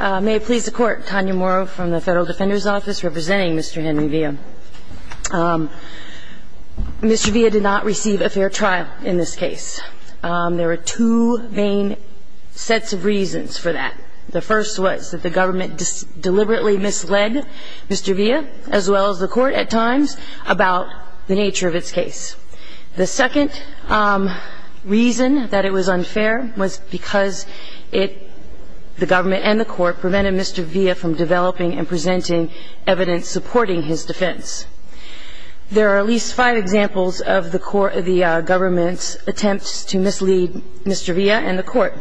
May it please the court, Tanya Morrow from the Federal Defender's Office representing Mr. Henry Villa. Mr. Villa did not receive a fair trial in this case. There were two main sets of reasons for that. The first was that the government deliberately misled Mr. Villa, as well as the court at times, about the nature of its case. The second reason that it was unfair was because the government and the court prevented Mr. Villa from developing and presenting evidence supporting his defense. There are at least five examples of the government's attempts to mislead Mr. Villa and the court.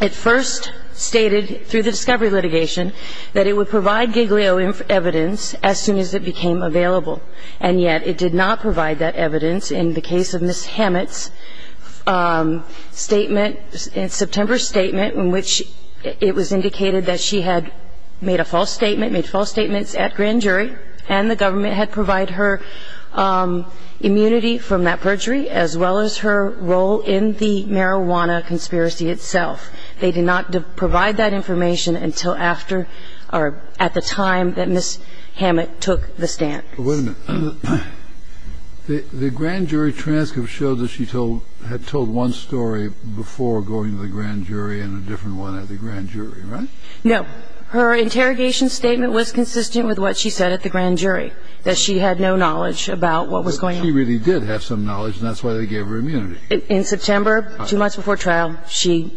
It first stated through the discovery litigation that it would provide Giglio evidence as soon as it became available, and yet it did not provide that evidence in the case of Ms. Hammett's statement, September's statement, in which it was indicated that she had made a false statement, made false statements at grand jury, and the government had provided her immunity from that perjury as well as her role in the marijuana conspiracy itself. They did not provide that information until after or at the time that Ms. Hammett took the stand. Wait a minute. The grand jury transcript showed that she had told one story before going to the grand jury and a different one at the grand jury, right? No. Her interrogation statement was consistent with what she said at the grand jury, that she had no knowledge about what was going on. She really did have some knowledge, and that's why they gave her immunity. In September, two months before trial, she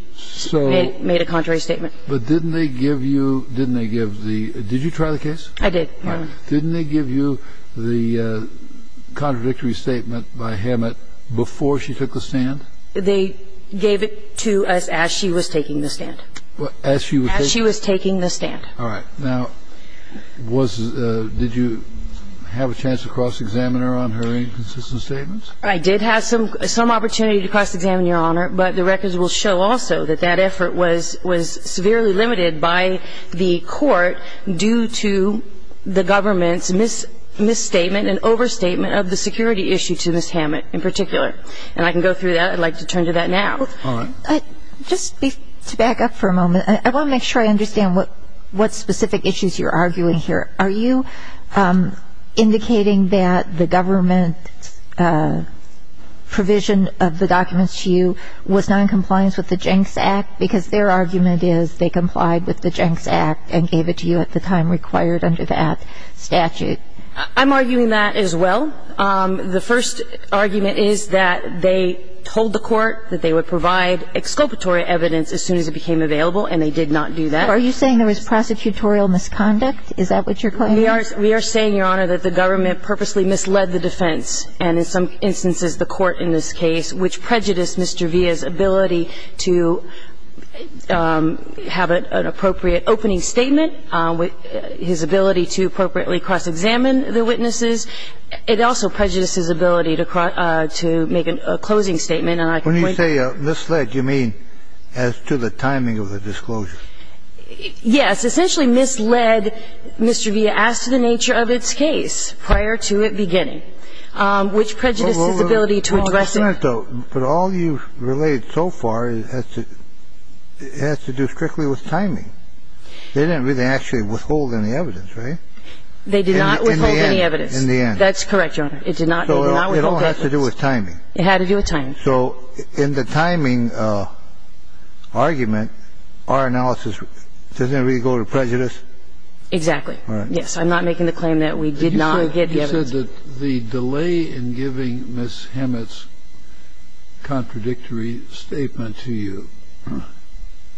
made a contrary statement. But didn't they give you the – did you try the case? I did. Didn't they give you the contradictory statement by Hammett before she took the stand? They gave it to us as she was taking the stand. As she was taking the stand. All right. Now, was – did you have a chance to cross-examine her on her inconsistent statements? I did have some opportunity to cross-examine Your Honor, but the records will show also that that effort was severely limited by the court due to the government's misstatement and overstatement of the security issue to Ms. Hammett in particular. And I can go through that. I'd like to turn to that now. All right. Just to back up for a moment, I want to make sure I understand what specific issues you're arguing here. Are you indicating that the government provision of the documents to you was not in compliance with the Jenks Act? Because their argument is they complied with the Jenks Act and gave it to you at the time required under that statute. I'm arguing that as well. The first argument is that they told the court that they would provide exculpatory evidence as soon as it became available, and they did not do that. Are you saying there was prosecutorial misconduct? Is that what you're claiming? We are saying, Your Honor, that the government purposely misled the defense, and in some instances the court in this case, which prejudiced Mr. Villa's ability to have an appropriate opening statement, his ability to appropriately cross-examine the witnesses. It also prejudiced his ability to make a closing statement. And I can point to that. When you say misled, you mean as to the timing of the disclosure? Yes. Essentially misled Mr. Villa as to the nature of its case prior to it beginning, which prejudiced his ability to address it. But all you've relayed so far has to do strictly with timing. They didn't really actually withhold any evidence, right? They did not withhold any evidence. In the end. That's correct, Your Honor. It did not withhold evidence. So it all has to do with timing. It had to do with timing. So in the timing argument, our analysis, doesn't it really go to prejudice? Exactly. Yes. I'm not making the claim that we did not get the evidence. You said that the delay in giving Ms. Hammett's contradictory statement to you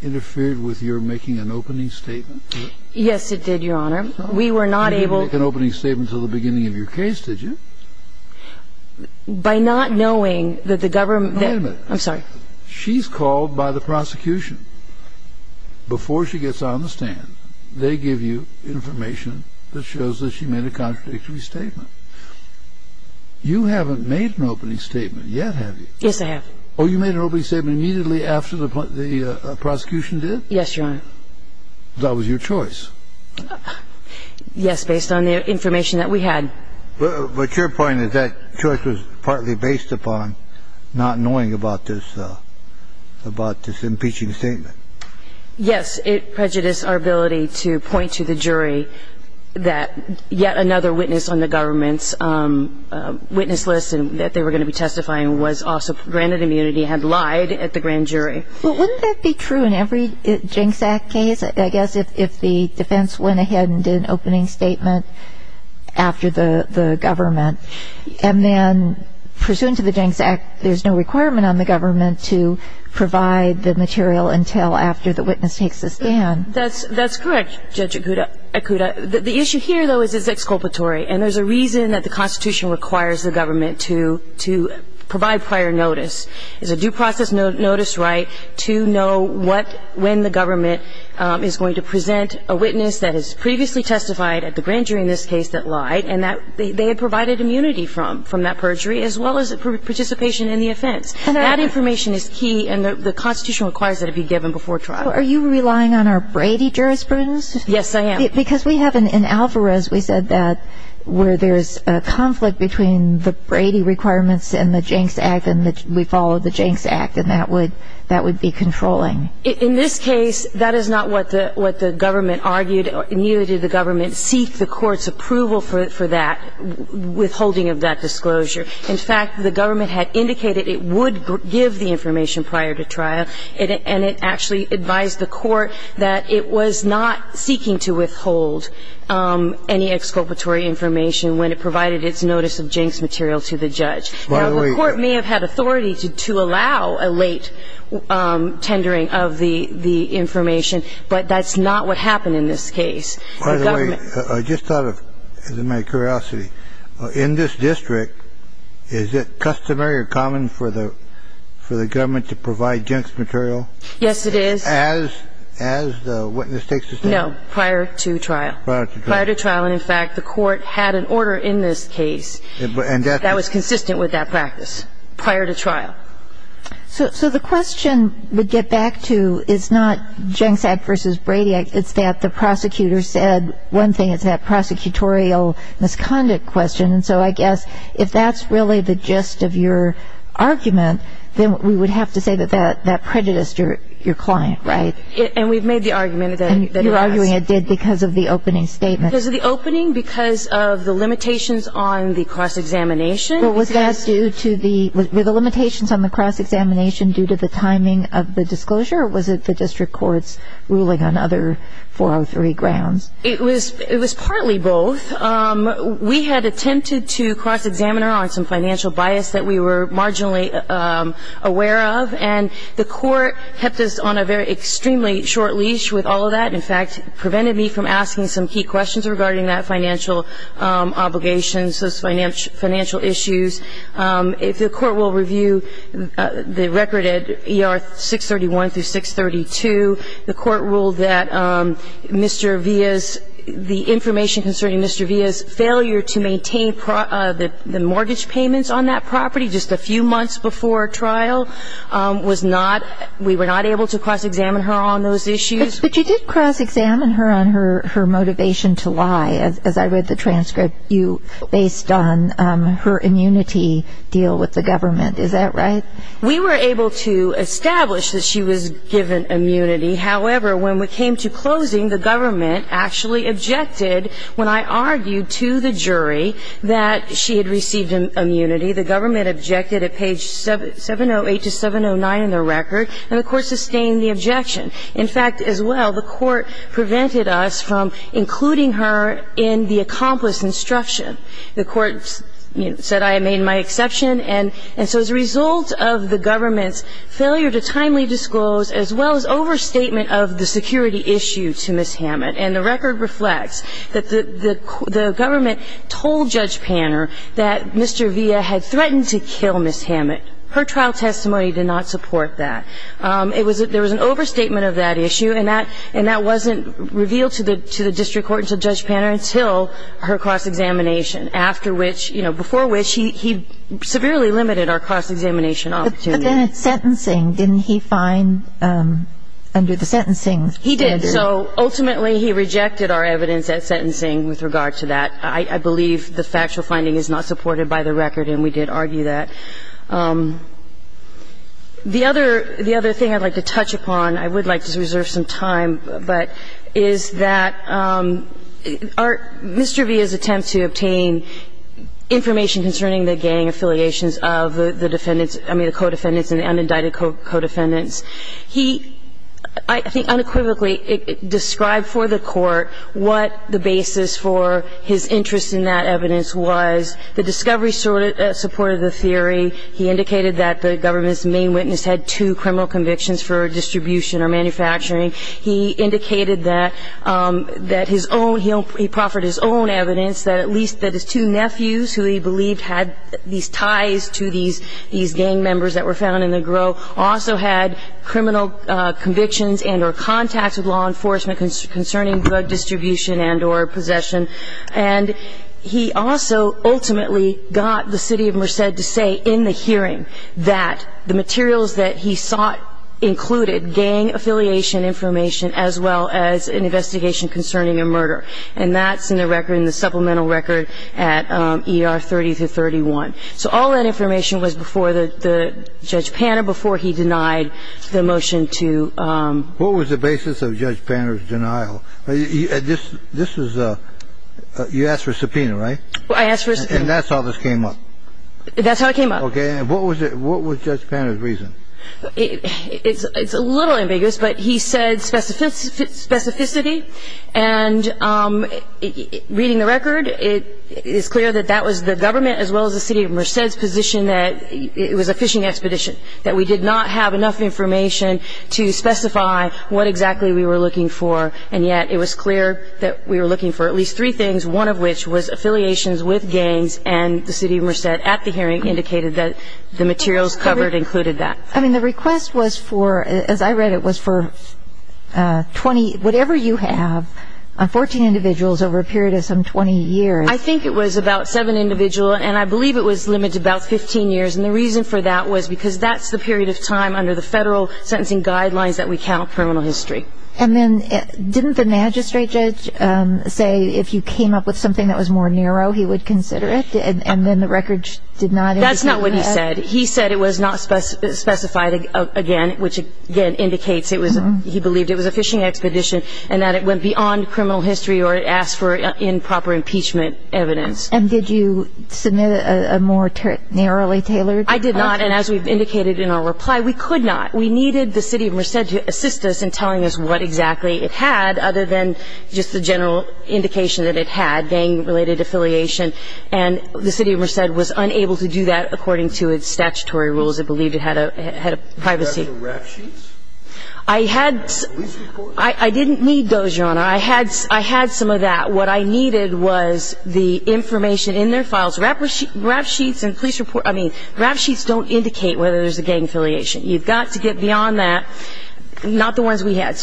interfered with your making an opening statement? Yes, it did, Your Honor. We were not able to. You didn't make an opening statement until the beginning of your case, did you? By not knowing that the government that ---- Wait a minute. I'm sorry. She's called by the prosecution. Before she gets on the stand, they give you information that shows that she made a contradictory statement. You haven't made an opening statement yet, have you? Yes, I have. Oh, you made an opening statement immediately after the prosecution did? Yes, Your Honor. That was your choice. Yes, based on the information that we had. But your point is that choice was partly based upon not knowing about this impeaching statement. Yes. It prejudiced our ability to point to the jury that yet another witness on the government's witness list that they were going to be testifying was also granted immunity, had lied at the grand jury. But wouldn't that be true in every Jenks Act case, I guess, if the defense went ahead and did an opening statement after the government? And then pursuant to the Jenks Act, there's no requirement on the government to provide the material until after the witness takes the stand. That's correct, Judge Ikuda. The issue here, though, is it's exculpatory. And there's a reason that the Constitution requires the government to provide prior notice. It's a due process notice right to know when the government is going to present a witness that has previously testified at the grand jury in this case that lied and that they had provided immunity from that perjury as well as participation in the offense. That information is key, and the Constitution requires that it be given before trial. Are you relying on our Brady jurisprudence? Yes, I am. Because we have in Alvarez, we said that where there's a conflict between the Brady requirements and the Jenks Act, and we follow the Jenks Act, and that would be controlling. In this case, that is not what the government argued. Neither did the government seek the court's approval for that, withholding of that disclosure. In fact, the government had indicated it would give the information prior to trial, and it actually advised the court that it was not seeking to withhold any exculpatory information when it provided its notice of Jenks material to the judge. Now, the court may have had authority to allow a late tendering of the information, but that's not what happened in this case. By the way, I just thought of, out of my curiosity, in this district, is it customary or common for the government to provide Jenks material? Yes, it is. As the witness takes the stand? No, prior to trial. Prior to trial. And, in fact, the court had an order in this case that was consistent with that practice prior to trial. So the question we get back to is not Jenks Act versus Brady Act. It's that the prosecutor said one thing. It's that prosecutorial misconduct question. And so I guess if that's really the gist of your argument, then we would have to say that that prejudiced your client, right? And we've made the argument that it has. And you're arguing it did because of the opening statement. Because of the opening, because of the limitations on the cross-examination. Well, was that due to the limitations on the cross-examination due to the timing of the disclosure, or was it the district court's ruling on other 403 grounds? It was partly both. We had attempted to cross-examine her on some financial bias that we were marginally aware of, and the court kept us on a very extremely short leash with all of that. In fact, it prevented me from asking some key questions regarding that financial obligation, those financial issues. If the court will review the record at ER 631 through 632, the court ruled that Mr. Villa's the information concerning Mr. Villa's failure to maintain the mortgage payments on that property just a few months before trial was not we were not able to cross-examine her on those issues. But you did cross-examine her on her motivation to lie, as I read the transcript, based on her immunity deal with the government. Is that right? We were able to establish that she was given immunity. However, when we came to closing, the government actually objected when I argued to the jury that she had received immunity. The government objected at page 708 to 709 in the record, and the court sustained the objection. In fact, as well, the court prevented us from including her in the accomplice instruction. The court said I made my exception. And so as a result of the government's failure to timely disclose, as well as overstatement of the security issue to Ms. Hammett, and the record reflects that the government told Judge Panner that Mr. Villa had threatened to kill Ms. Hammett. Her trial testimony did not support that. There was an overstatement of that issue, and that wasn't revealed to the district court and to Judge Panner until her cross-examination, after which, you know, before which he severely limited our cross-examination opportunity. But then at sentencing, didn't he find under the sentencing standard? He did. So ultimately he rejected our evidence at sentencing with regard to that. I believe the factual finding is not supported by the record, and we did argue that. The other thing I'd like to touch upon, I would like to reserve some time, but is that Mr. Villa's attempt to obtain information concerning the gang affiliations of the defendants, I mean the co-defendants and the unindicted co-defendants, he I think unequivocally described for the court what the basis for his interest in that evidence was, the discovery supported the theory, he indicated that the government's main witness had two criminal convictions for distribution or manufacturing. He indicated that his own, he proffered his own evidence that at least that his two nephews, who he believed had these ties to these gang members that were found in the grove, also had criminal convictions and or contacts with law enforcement concerning drug distribution and or possession. And he also ultimately got the city of Merced to say in the hearing that the materials that he sought included gang affiliation information as well as an investigation concerning a murder. And that's in the record, in the supplemental record at ER 30-31. So all that information was before the Judge Panner, before he denied the motion to ---- What was the basis of Judge Panner's denial? This is a, you asked for a subpoena, right? I asked for a subpoena. And that's how this came up? That's how it came up. Okay. And what was Judge Panner's reason? It's a little ambiguous, but he said specificity and reading the record, it is clear that that was the government as well as the city of Merced's position that it was a fishing expedition, that we did not have enough information to specify what exactly we were looking for. And yet it was clear that we were looking for at least three things, one of which was affiliations with gangs, and the city of Merced at the hearing indicated that the materials covered included that. I mean, the request was for, as I read it, was for 20, whatever you have, 14 individuals over a period of some 20 years. I think it was about seven individuals, and I believe it was limited to about 15 years, and the reason for that was because that's the period of time under the federal sentencing guidelines that we count criminal history. And then didn't the magistrate judge say if you came up with something that was more narrow, he would consider it, and then the record did not indicate that? That's not what he said. He said it was not specified again, which, again, indicates he believed it was a fishing expedition and that it went beyond criminal history or it asked for improper impeachment evidence. And did you submit a more narrowly tailored? I did not, and as we've indicated in our reply, we could not. We needed the city of Merced to assist us in telling us what exactly it had, other than just the general indication that it had, gang-related affiliation, and the city of Merced was unable to do that according to its statutory rules. It believed it had a privacy. Did it have any rap sheets? I didn't need those, Your Honor. I had some of that. What I needed was the information in their files. Rap sheets and police reports, I mean, rap sheets don't indicate whether there's a gang affiliation. You've got to get beyond that, not the ones we had,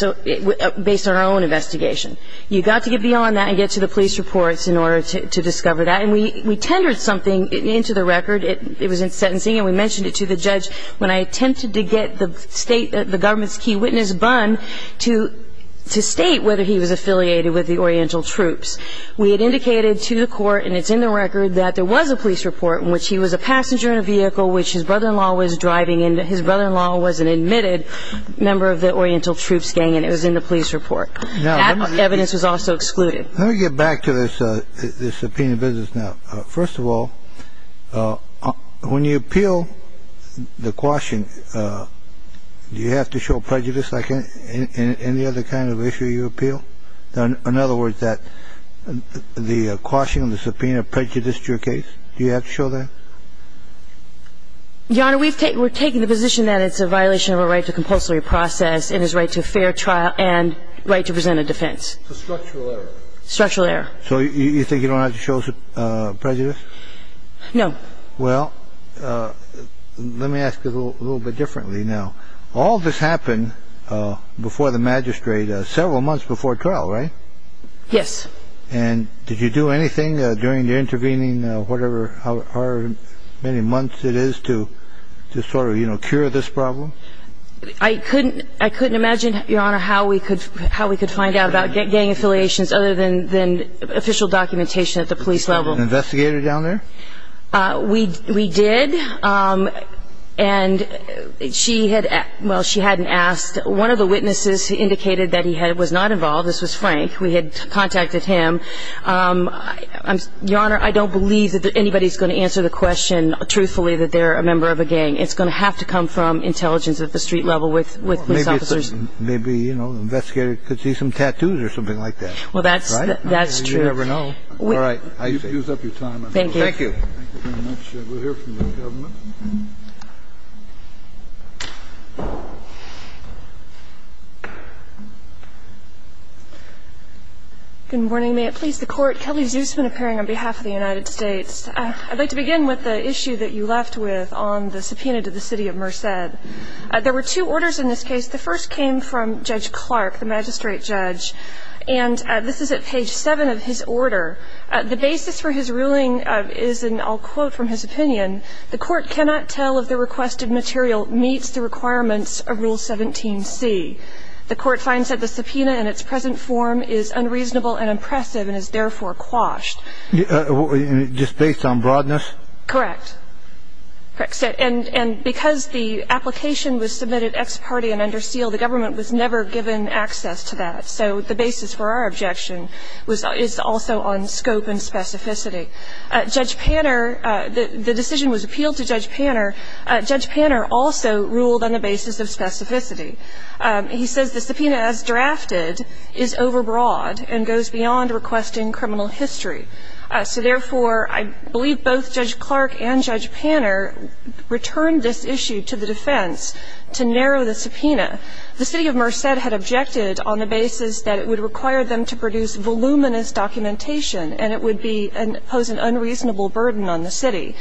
based on our own investigation. You've got to get beyond that and get to the police reports in order to discover that. And we tendered something into the record. It was in sentencing, and we mentioned it to the judge. When I attempted to get the state, the government's key witness, Bunn, to state whether he was affiliated with the Oriental Troops, we had indicated to the court, and it's in the record, that there was a police report in which he was a passenger in a vehicle which his brother-in-law was driving, and his brother-in-law was an admitted member of the Oriental Troops gang, and it was in the police report. That evidence was also excluded. Let me get back to this subpoena business now. First of all, when you appeal the quashing, do you have to show prejudice like in any other kind of issue you appeal? In other words, that the quashing of the subpoena prejudiced your case? Do you have to show that? Your Honor, we're taking the position that it's a violation of a right to compulsory process and his right to a fair trial and right to present a defense. So structural error. Structural error. So you think you don't have to show prejudice? No. Well, let me ask you a little bit differently now. All this happened before the magistrate, several months before trial, right? Yes. And did you do anything during the intervening, whatever, however many months it is to sort of cure this problem? I couldn't imagine, Your Honor, how we could find out about gang affiliations other than official documentation at the police level. Did you get an investigator down there? We did, and she hadn't asked. One of the witnesses indicated that he was not involved. This was Frank. We had contacted him. Your Honor, I don't believe that anybody's going to answer the question truthfully that they're a member of a gang. It's going to have to come from intelligence at the street level with police officers. Maybe, you know, the investigator could see some tattoos or something like that. Well, that's true. You never know. All right. Use up your time. Thank you. Thank you. Thank you very much. We'll hear from the government. Good morning. May it please the Court. Kelly Zusman appearing on behalf of the United States. I'd like to begin with the issue that you left with on the subpoena to the city of Merced. There were two orders in this case. The first came from Judge Clark, the magistrate judge, and this is at page 7 of his order. The basis for his ruling is, and I'll quote from his opinion, the court cannot tell if the requested material meets the requirements of Rule 17C. The court finds that the subpoena in its present form is unreasonable and oppressive and is therefore quashed. Just based on broadness? Correct. And because the application was submitted ex parte and under seal, the government was never given access to that. So the basis for our objection is also on scope and specificity. Judge Panner, the decision was appealed to Judge Panner. Judge Panner also ruled on the basis of specificity. He says the subpoena as drafted is overbroad and goes beyond requesting criminal history. So, therefore, I believe both Judge Clark and Judge Panner returned this issue to the defense to narrow the subpoena. The city of Merced had objected on the basis that it would require them to produce voluminous documentation and it would pose an unreasonable burden on the city.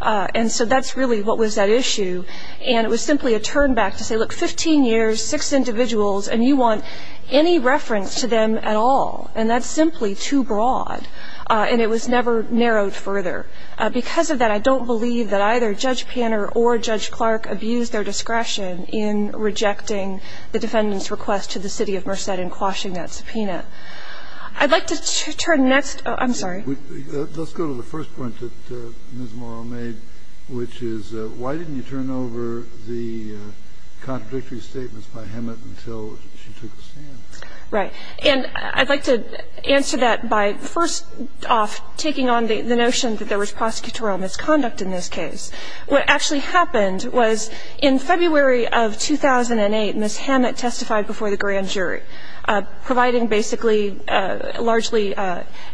And so that's really what was at issue, and it was simply a turn back to say, look, 15 years, six individuals, and you want any reference to them at all. And that's simply too broad, and it was never narrowed further. Because of that, I don't believe that either Judge Panner or Judge Clark abused their discretion in rejecting the defendant's request to the city of Merced in quashing that subpoena. I'd like to turn next to the first point that Ms. Morrow made, which is why didn't you turn over the contradictory statements by Hemet until she took the stand? Right. And I'd like to answer that by first off taking on the notion that there was prosecutorial misconduct in this case. What actually happened was in February of 2008, Ms. Hemet testified before the grand jury, providing basically largely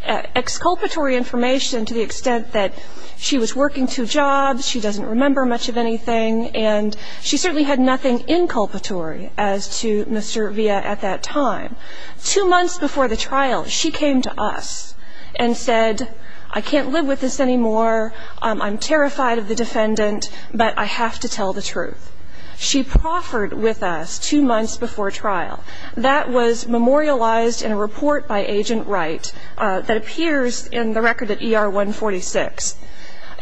exculpatory information to the extent that she was working two jobs, she doesn't remember much of anything, and she certainly had nothing inculpatory as to Mr. Villa at that time. Two months before the trial, she came to us and said, I can't live with this anymore, I'm terrified of the defendant, but I have to tell the truth. She proffered with us two months before trial. That was memorialized in a report by Agent Wright that appears in the record at ER 146.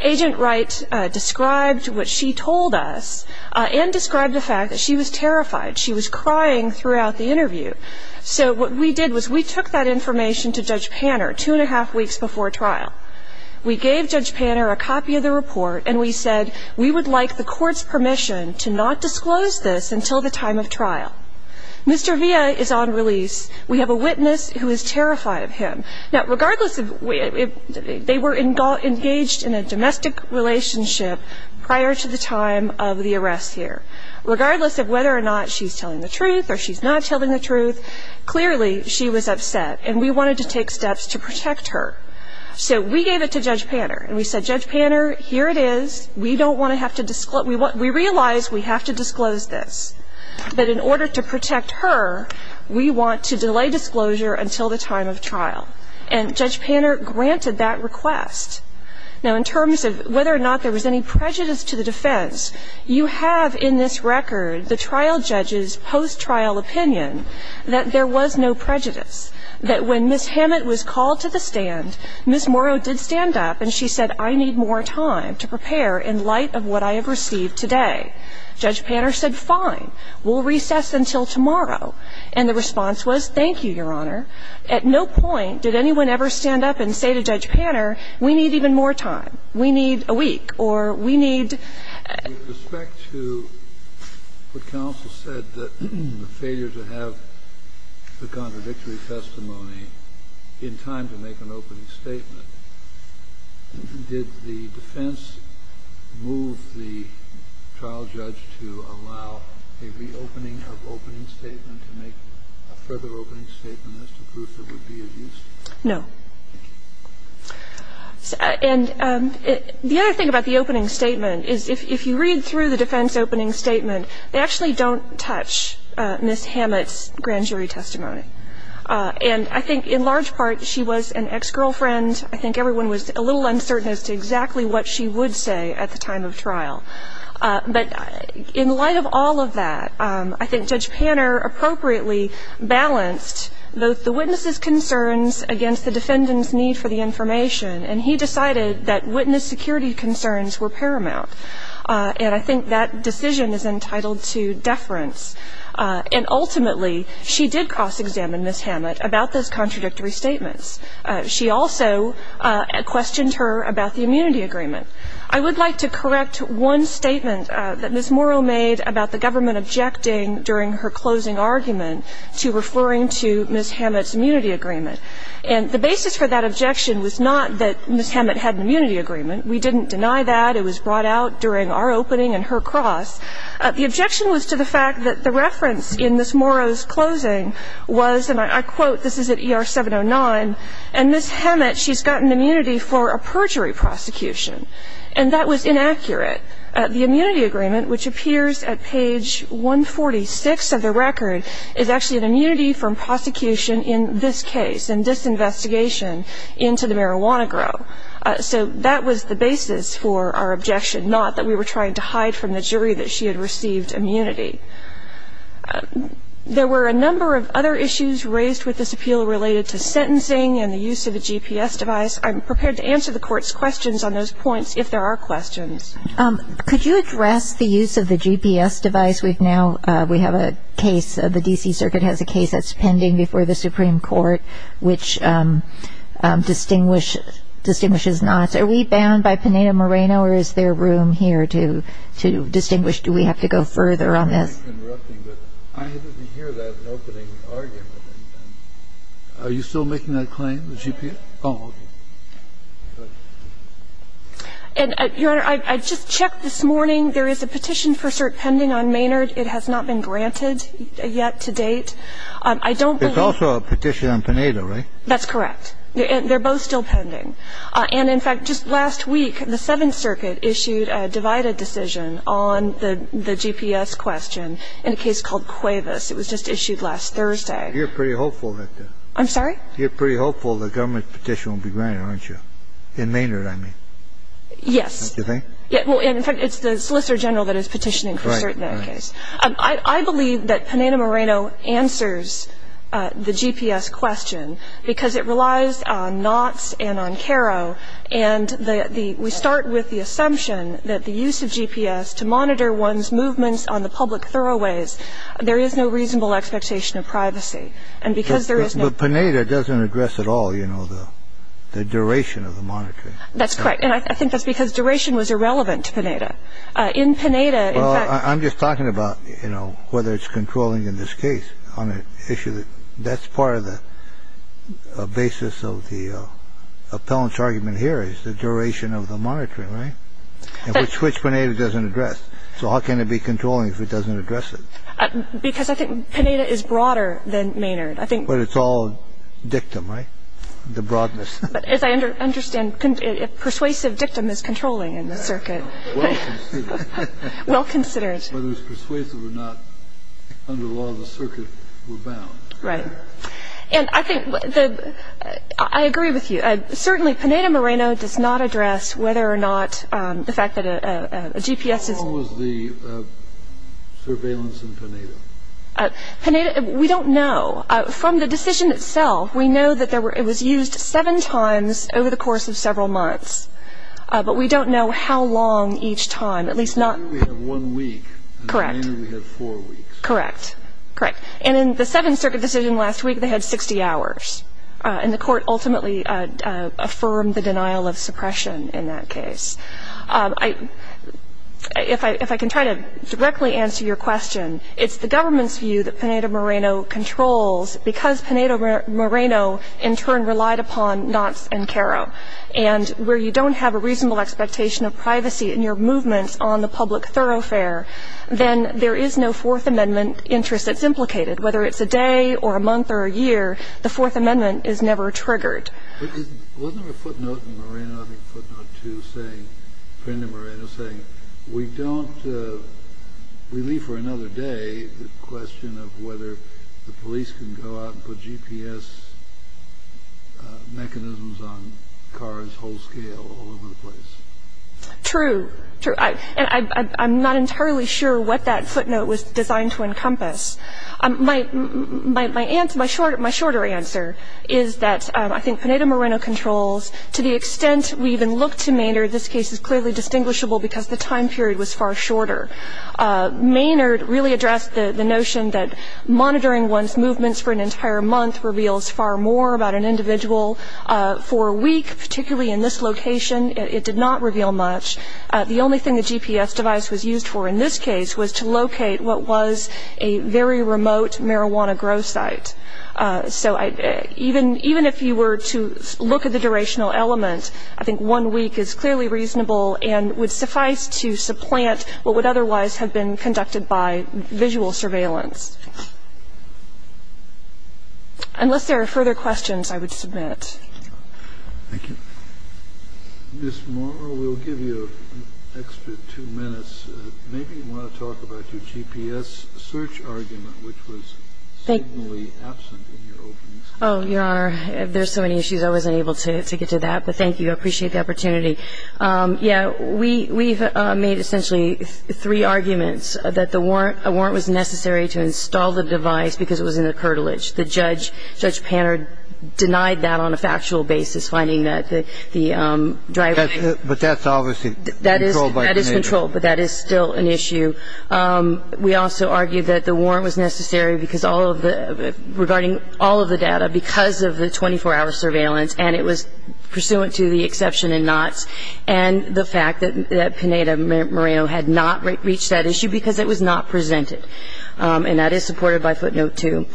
Agent Wright described what she told us and described the fact that she was terrified. She was crying throughout the interview. So what we did was we took that information to Judge Panner two and a half weeks before trial. We gave Judge Panner a copy of the report, and we said, we would like the court's permission to not disclose this until the time of trial. Mr. Villa is on release. We have a witness who is terrified of him. Now, regardless of if they were engaged in a domestic relationship prior to the time of the arrest here, regardless of whether or not she's telling the truth or she's not telling the truth, clearly she was upset, and we wanted to take steps to protect her. So we gave it to Judge Panner, and we said, Judge Panner, here it is, we don't want to have to disclose, we realize we have to disclose this, but in order to protect her, we want to delay disclosure until the time of trial. And Judge Panner granted that request. Now, in terms of whether or not there was any prejudice to the defense, you have in this record the trial judge's post-trial opinion that there was no prejudice, that when Ms. Hammett was called to the stand, Ms. Morrow did stand up, and she said, I need more time to prepare in light of what I have received today. Judge Panner said, fine, we'll recess until tomorrow. And the response was, thank you, Your Honor. At no point did anyone ever stand up and say to Judge Panner, we need even more time, we need a week, or we need ---- Kennedy, with respect to what counsel said, that the failure to have the contradictory testimony in time to make an opening statement, did the defense move the trial judge's testimony to allow a reopening of opening statement to make a further opening statement as to proof it would be of use? No. And the other thing about the opening statement is if you read through the defense opening statement, they actually don't touch Ms. Hammett's grand jury testimony. And I think in large part, she was an ex-girlfriend. I think everyone was a little uncertain as to exactly what she would say at the time of trial. But in light of all of that, I think Judge Panner appropriately balanced both the witness's concerns against the defendant's need for the information, and he decided that witness security concerns were paramount. And I think that decision is entitled to deference. And ultimately, she did cross-examine Ms. Hammett about those contradictory statements. She also questioned her about the immunity agreement. I would like to correct one statement that Ms. Morrow made about the government objecting during her closing argument to referring to Ms. Hammett's immunity agreement. And the basis for that objection was not that Ms. Hammett had an immunity agreement. We didn't deny that. It was brought out during our opening and her cross. The objection was to the fact that the reference in Ms. Morrow's closing was, and I quote this is at ER 709, and Ms. Hammett, she's got an immunity for a perjury prosecution. And that was inaccurate. The immunity agreement, which appears at page 146 of the record, is actually an immunity from prosecution in this case and this investigation into the marijuana grow. So that was the basis for our objection, not that we were trying to hide from the jury that she had received immunity. There were a number of other issues raised with this appeal related to sentencing and the use of the GPS device. I'm prepared to answer the Court's questions on those points if there are questions. Could you address the use of the GPS device? We've now, we have a case, the D.C. Circuit has a case that's pending before the Supreme Court, which distinguishes not. Are we bound by Pineda-Moreno or is there room here to distinguish, do we have to go further on this? I didn't hear that opening argument. Are you still making that claim, the GPS? Oh, okay. And, Your Honor, I just checked this morning. There is a petition for cert pending on Maynard. It has not been granted yet to date. I don't believe. There's also a petition on Pineda, right? That's correct. They're both still pending. And, in fact, just last week, the Seventh Circuit issued a divided decision on the GPS question in a case called Cuevas. It was just issued last Thursday. You're pretty hopeful that the government's petition will be granted, aren't you? In Maynard, I mean. Yes. Don't you think? In fact, it's the Solicitor General that is petitioning for cert in that case. I believe that Pineda-Moreno answers the GPS question because it relies on knots and on caro, and we start with the assumption that the use of GPS to monitor one's movements on the public throwaways, there is no reasonable expectation of privacy. And because there is no- But Pineda doesn't address at all, you know, the duration of the monitoring. That's correct. And I think that's because duration was irrelevant to Pineda. In Pineda, in fact- The only one thing that's relevant to Pineda is the duration of the monitoring. And the only thing that's relevant to the appellant's argument here is the duration of the monitoring, right? Which Pineda doesn't address. So how can it be controlling if it doesn't address it? Because I think Pineda is broader than Maynard. I think- But it's all dictum, right? The broadness. But as I understand, persuasive dictum is controlling in the circuit. Well considered. Well considered. Whether it's persuasive or not, under the law of the circuit, we're bound. Right. And I think the- I agree with you. Certainly, Pineda Moreno does not address whether or not the fact that a GPS is- How long was the surveillance in Pineda? Pineda, we don't know. From the decision itself, we know that it was used seven times over the course of several months. But we don't know how long each time, at least not- Correct. Correct. Correct. And in the Seventh Circuit decision last week, they had 60 hours. And the court ultimately affirmed the denial of suppression in that case. If I can try to directly answer your question, it's the government's view that Pineda Moreno controls because Pineda Moreno, in turn, relied upon Knotts and Caro. And where you don't have a reasonable expectation of privacy in your movements on the public thoroughfare, then there is no Fourth Amendment interest that's implicated. Whether it's a day or a month or a year, the Fourth Amendment is never triggered. Wasn't there a footnote in Moreno, I think footnote two, saying-Pineda Moreno saying, True. True. And I'm not entirely sure what that footnote was designed to encompass. My answer, my shorter answer is that I think Pineda Moreno controls. To the extent we even look to Mainder, this case is clearly distinguishable It's a very short time frame. It's a very short time frame. Mainder really addressed the notion that monitoring one's movements for an entire month reveals far more about an individual. For a week, particularly in this location, it did not reveal much. The only thing the GPS device was used for in this case was to locate what was a very remote marijuana grow site. So even if you were to look at the durational element, I think one week is clearly reasonable and would suffice to supplant what would otherwise have been conducted by visual surveillance. Unless there are further questions, I would submit. Thank you. Ms. Morrow, we'll give you an extra two minutes. Maybe you want to talk about your GPS search argument, which was seemingly absent in your opening statement. Oh, Your Honor, there's so many issues I wasn't able to get to that. But thank you. I appreciate the opportunity. Yeah, we've made essentially three arguments. That the warrant was necessary to install the device because it was in the curtilage. The judge, Judge Panard, denied that on a factual basis, finding that the driver... But that's obviously controlled by Canadian. That is controlled, but that is still an issue. We also argued that the warrant was necessary regarding all of the data because of the 24-hour surveillance and it was pursuant to the exception in Knott's and the fact that Pineda-Moreno had not reached that issue because it was not presented. And that is supported by footnote 2.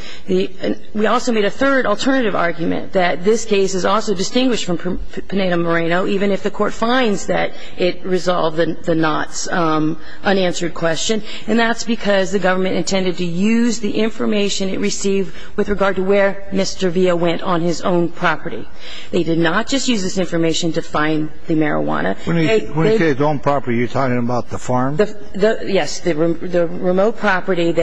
We also made a third alternative argument that this case is also distinguished from Pineda-Moreno, even if the Court finds that it resolved the Knott's unanswered question, and that's because the government intended to use the information it received with regard to where Mr. Villa went on his own property. They did not just use this information to find the marijuana. When you say his own property, are you talking about the farm? Yes, the remote property. You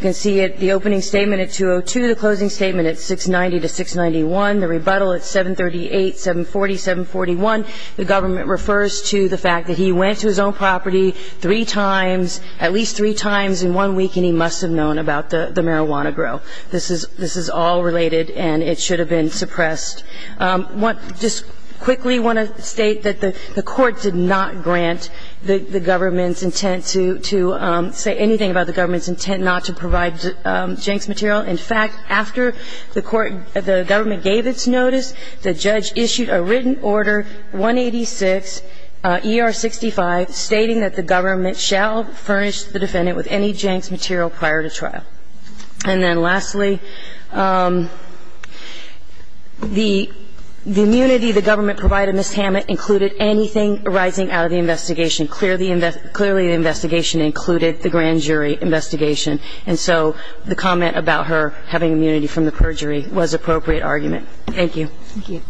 can see the opening statement at 202, the closing statement at 690 to 691, the rebuttal at 738, 740, 741. The government refers to the fact that he went to his own property three times, at least three times in one week, and he must have known about the marijuana grow. This is all related and it should have been suppressed. I just quickly want to state that the Court did not grant the government's intent to say anything about the government's intent not to provide Jenks material. In fact, after the government gave its notice, the judge issued a written order, 186 ER 65, stating that the government shall furnish the defendant with any Jenks material prior to trial. And then lastly, the immunity the government provided Ms. Hammett included anything arising out of the investigation. Clearly, the investigation included the grand jury investigation, and so the comment about her having immunity from the perjury was an appropriate argument. Thank you. Thank you.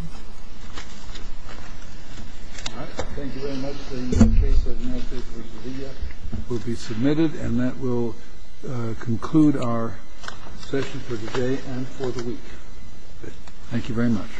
All right. Thank you very much. The case of America vs. India will be submitted, and that will conclude our session for today and for the week. Thank you very much.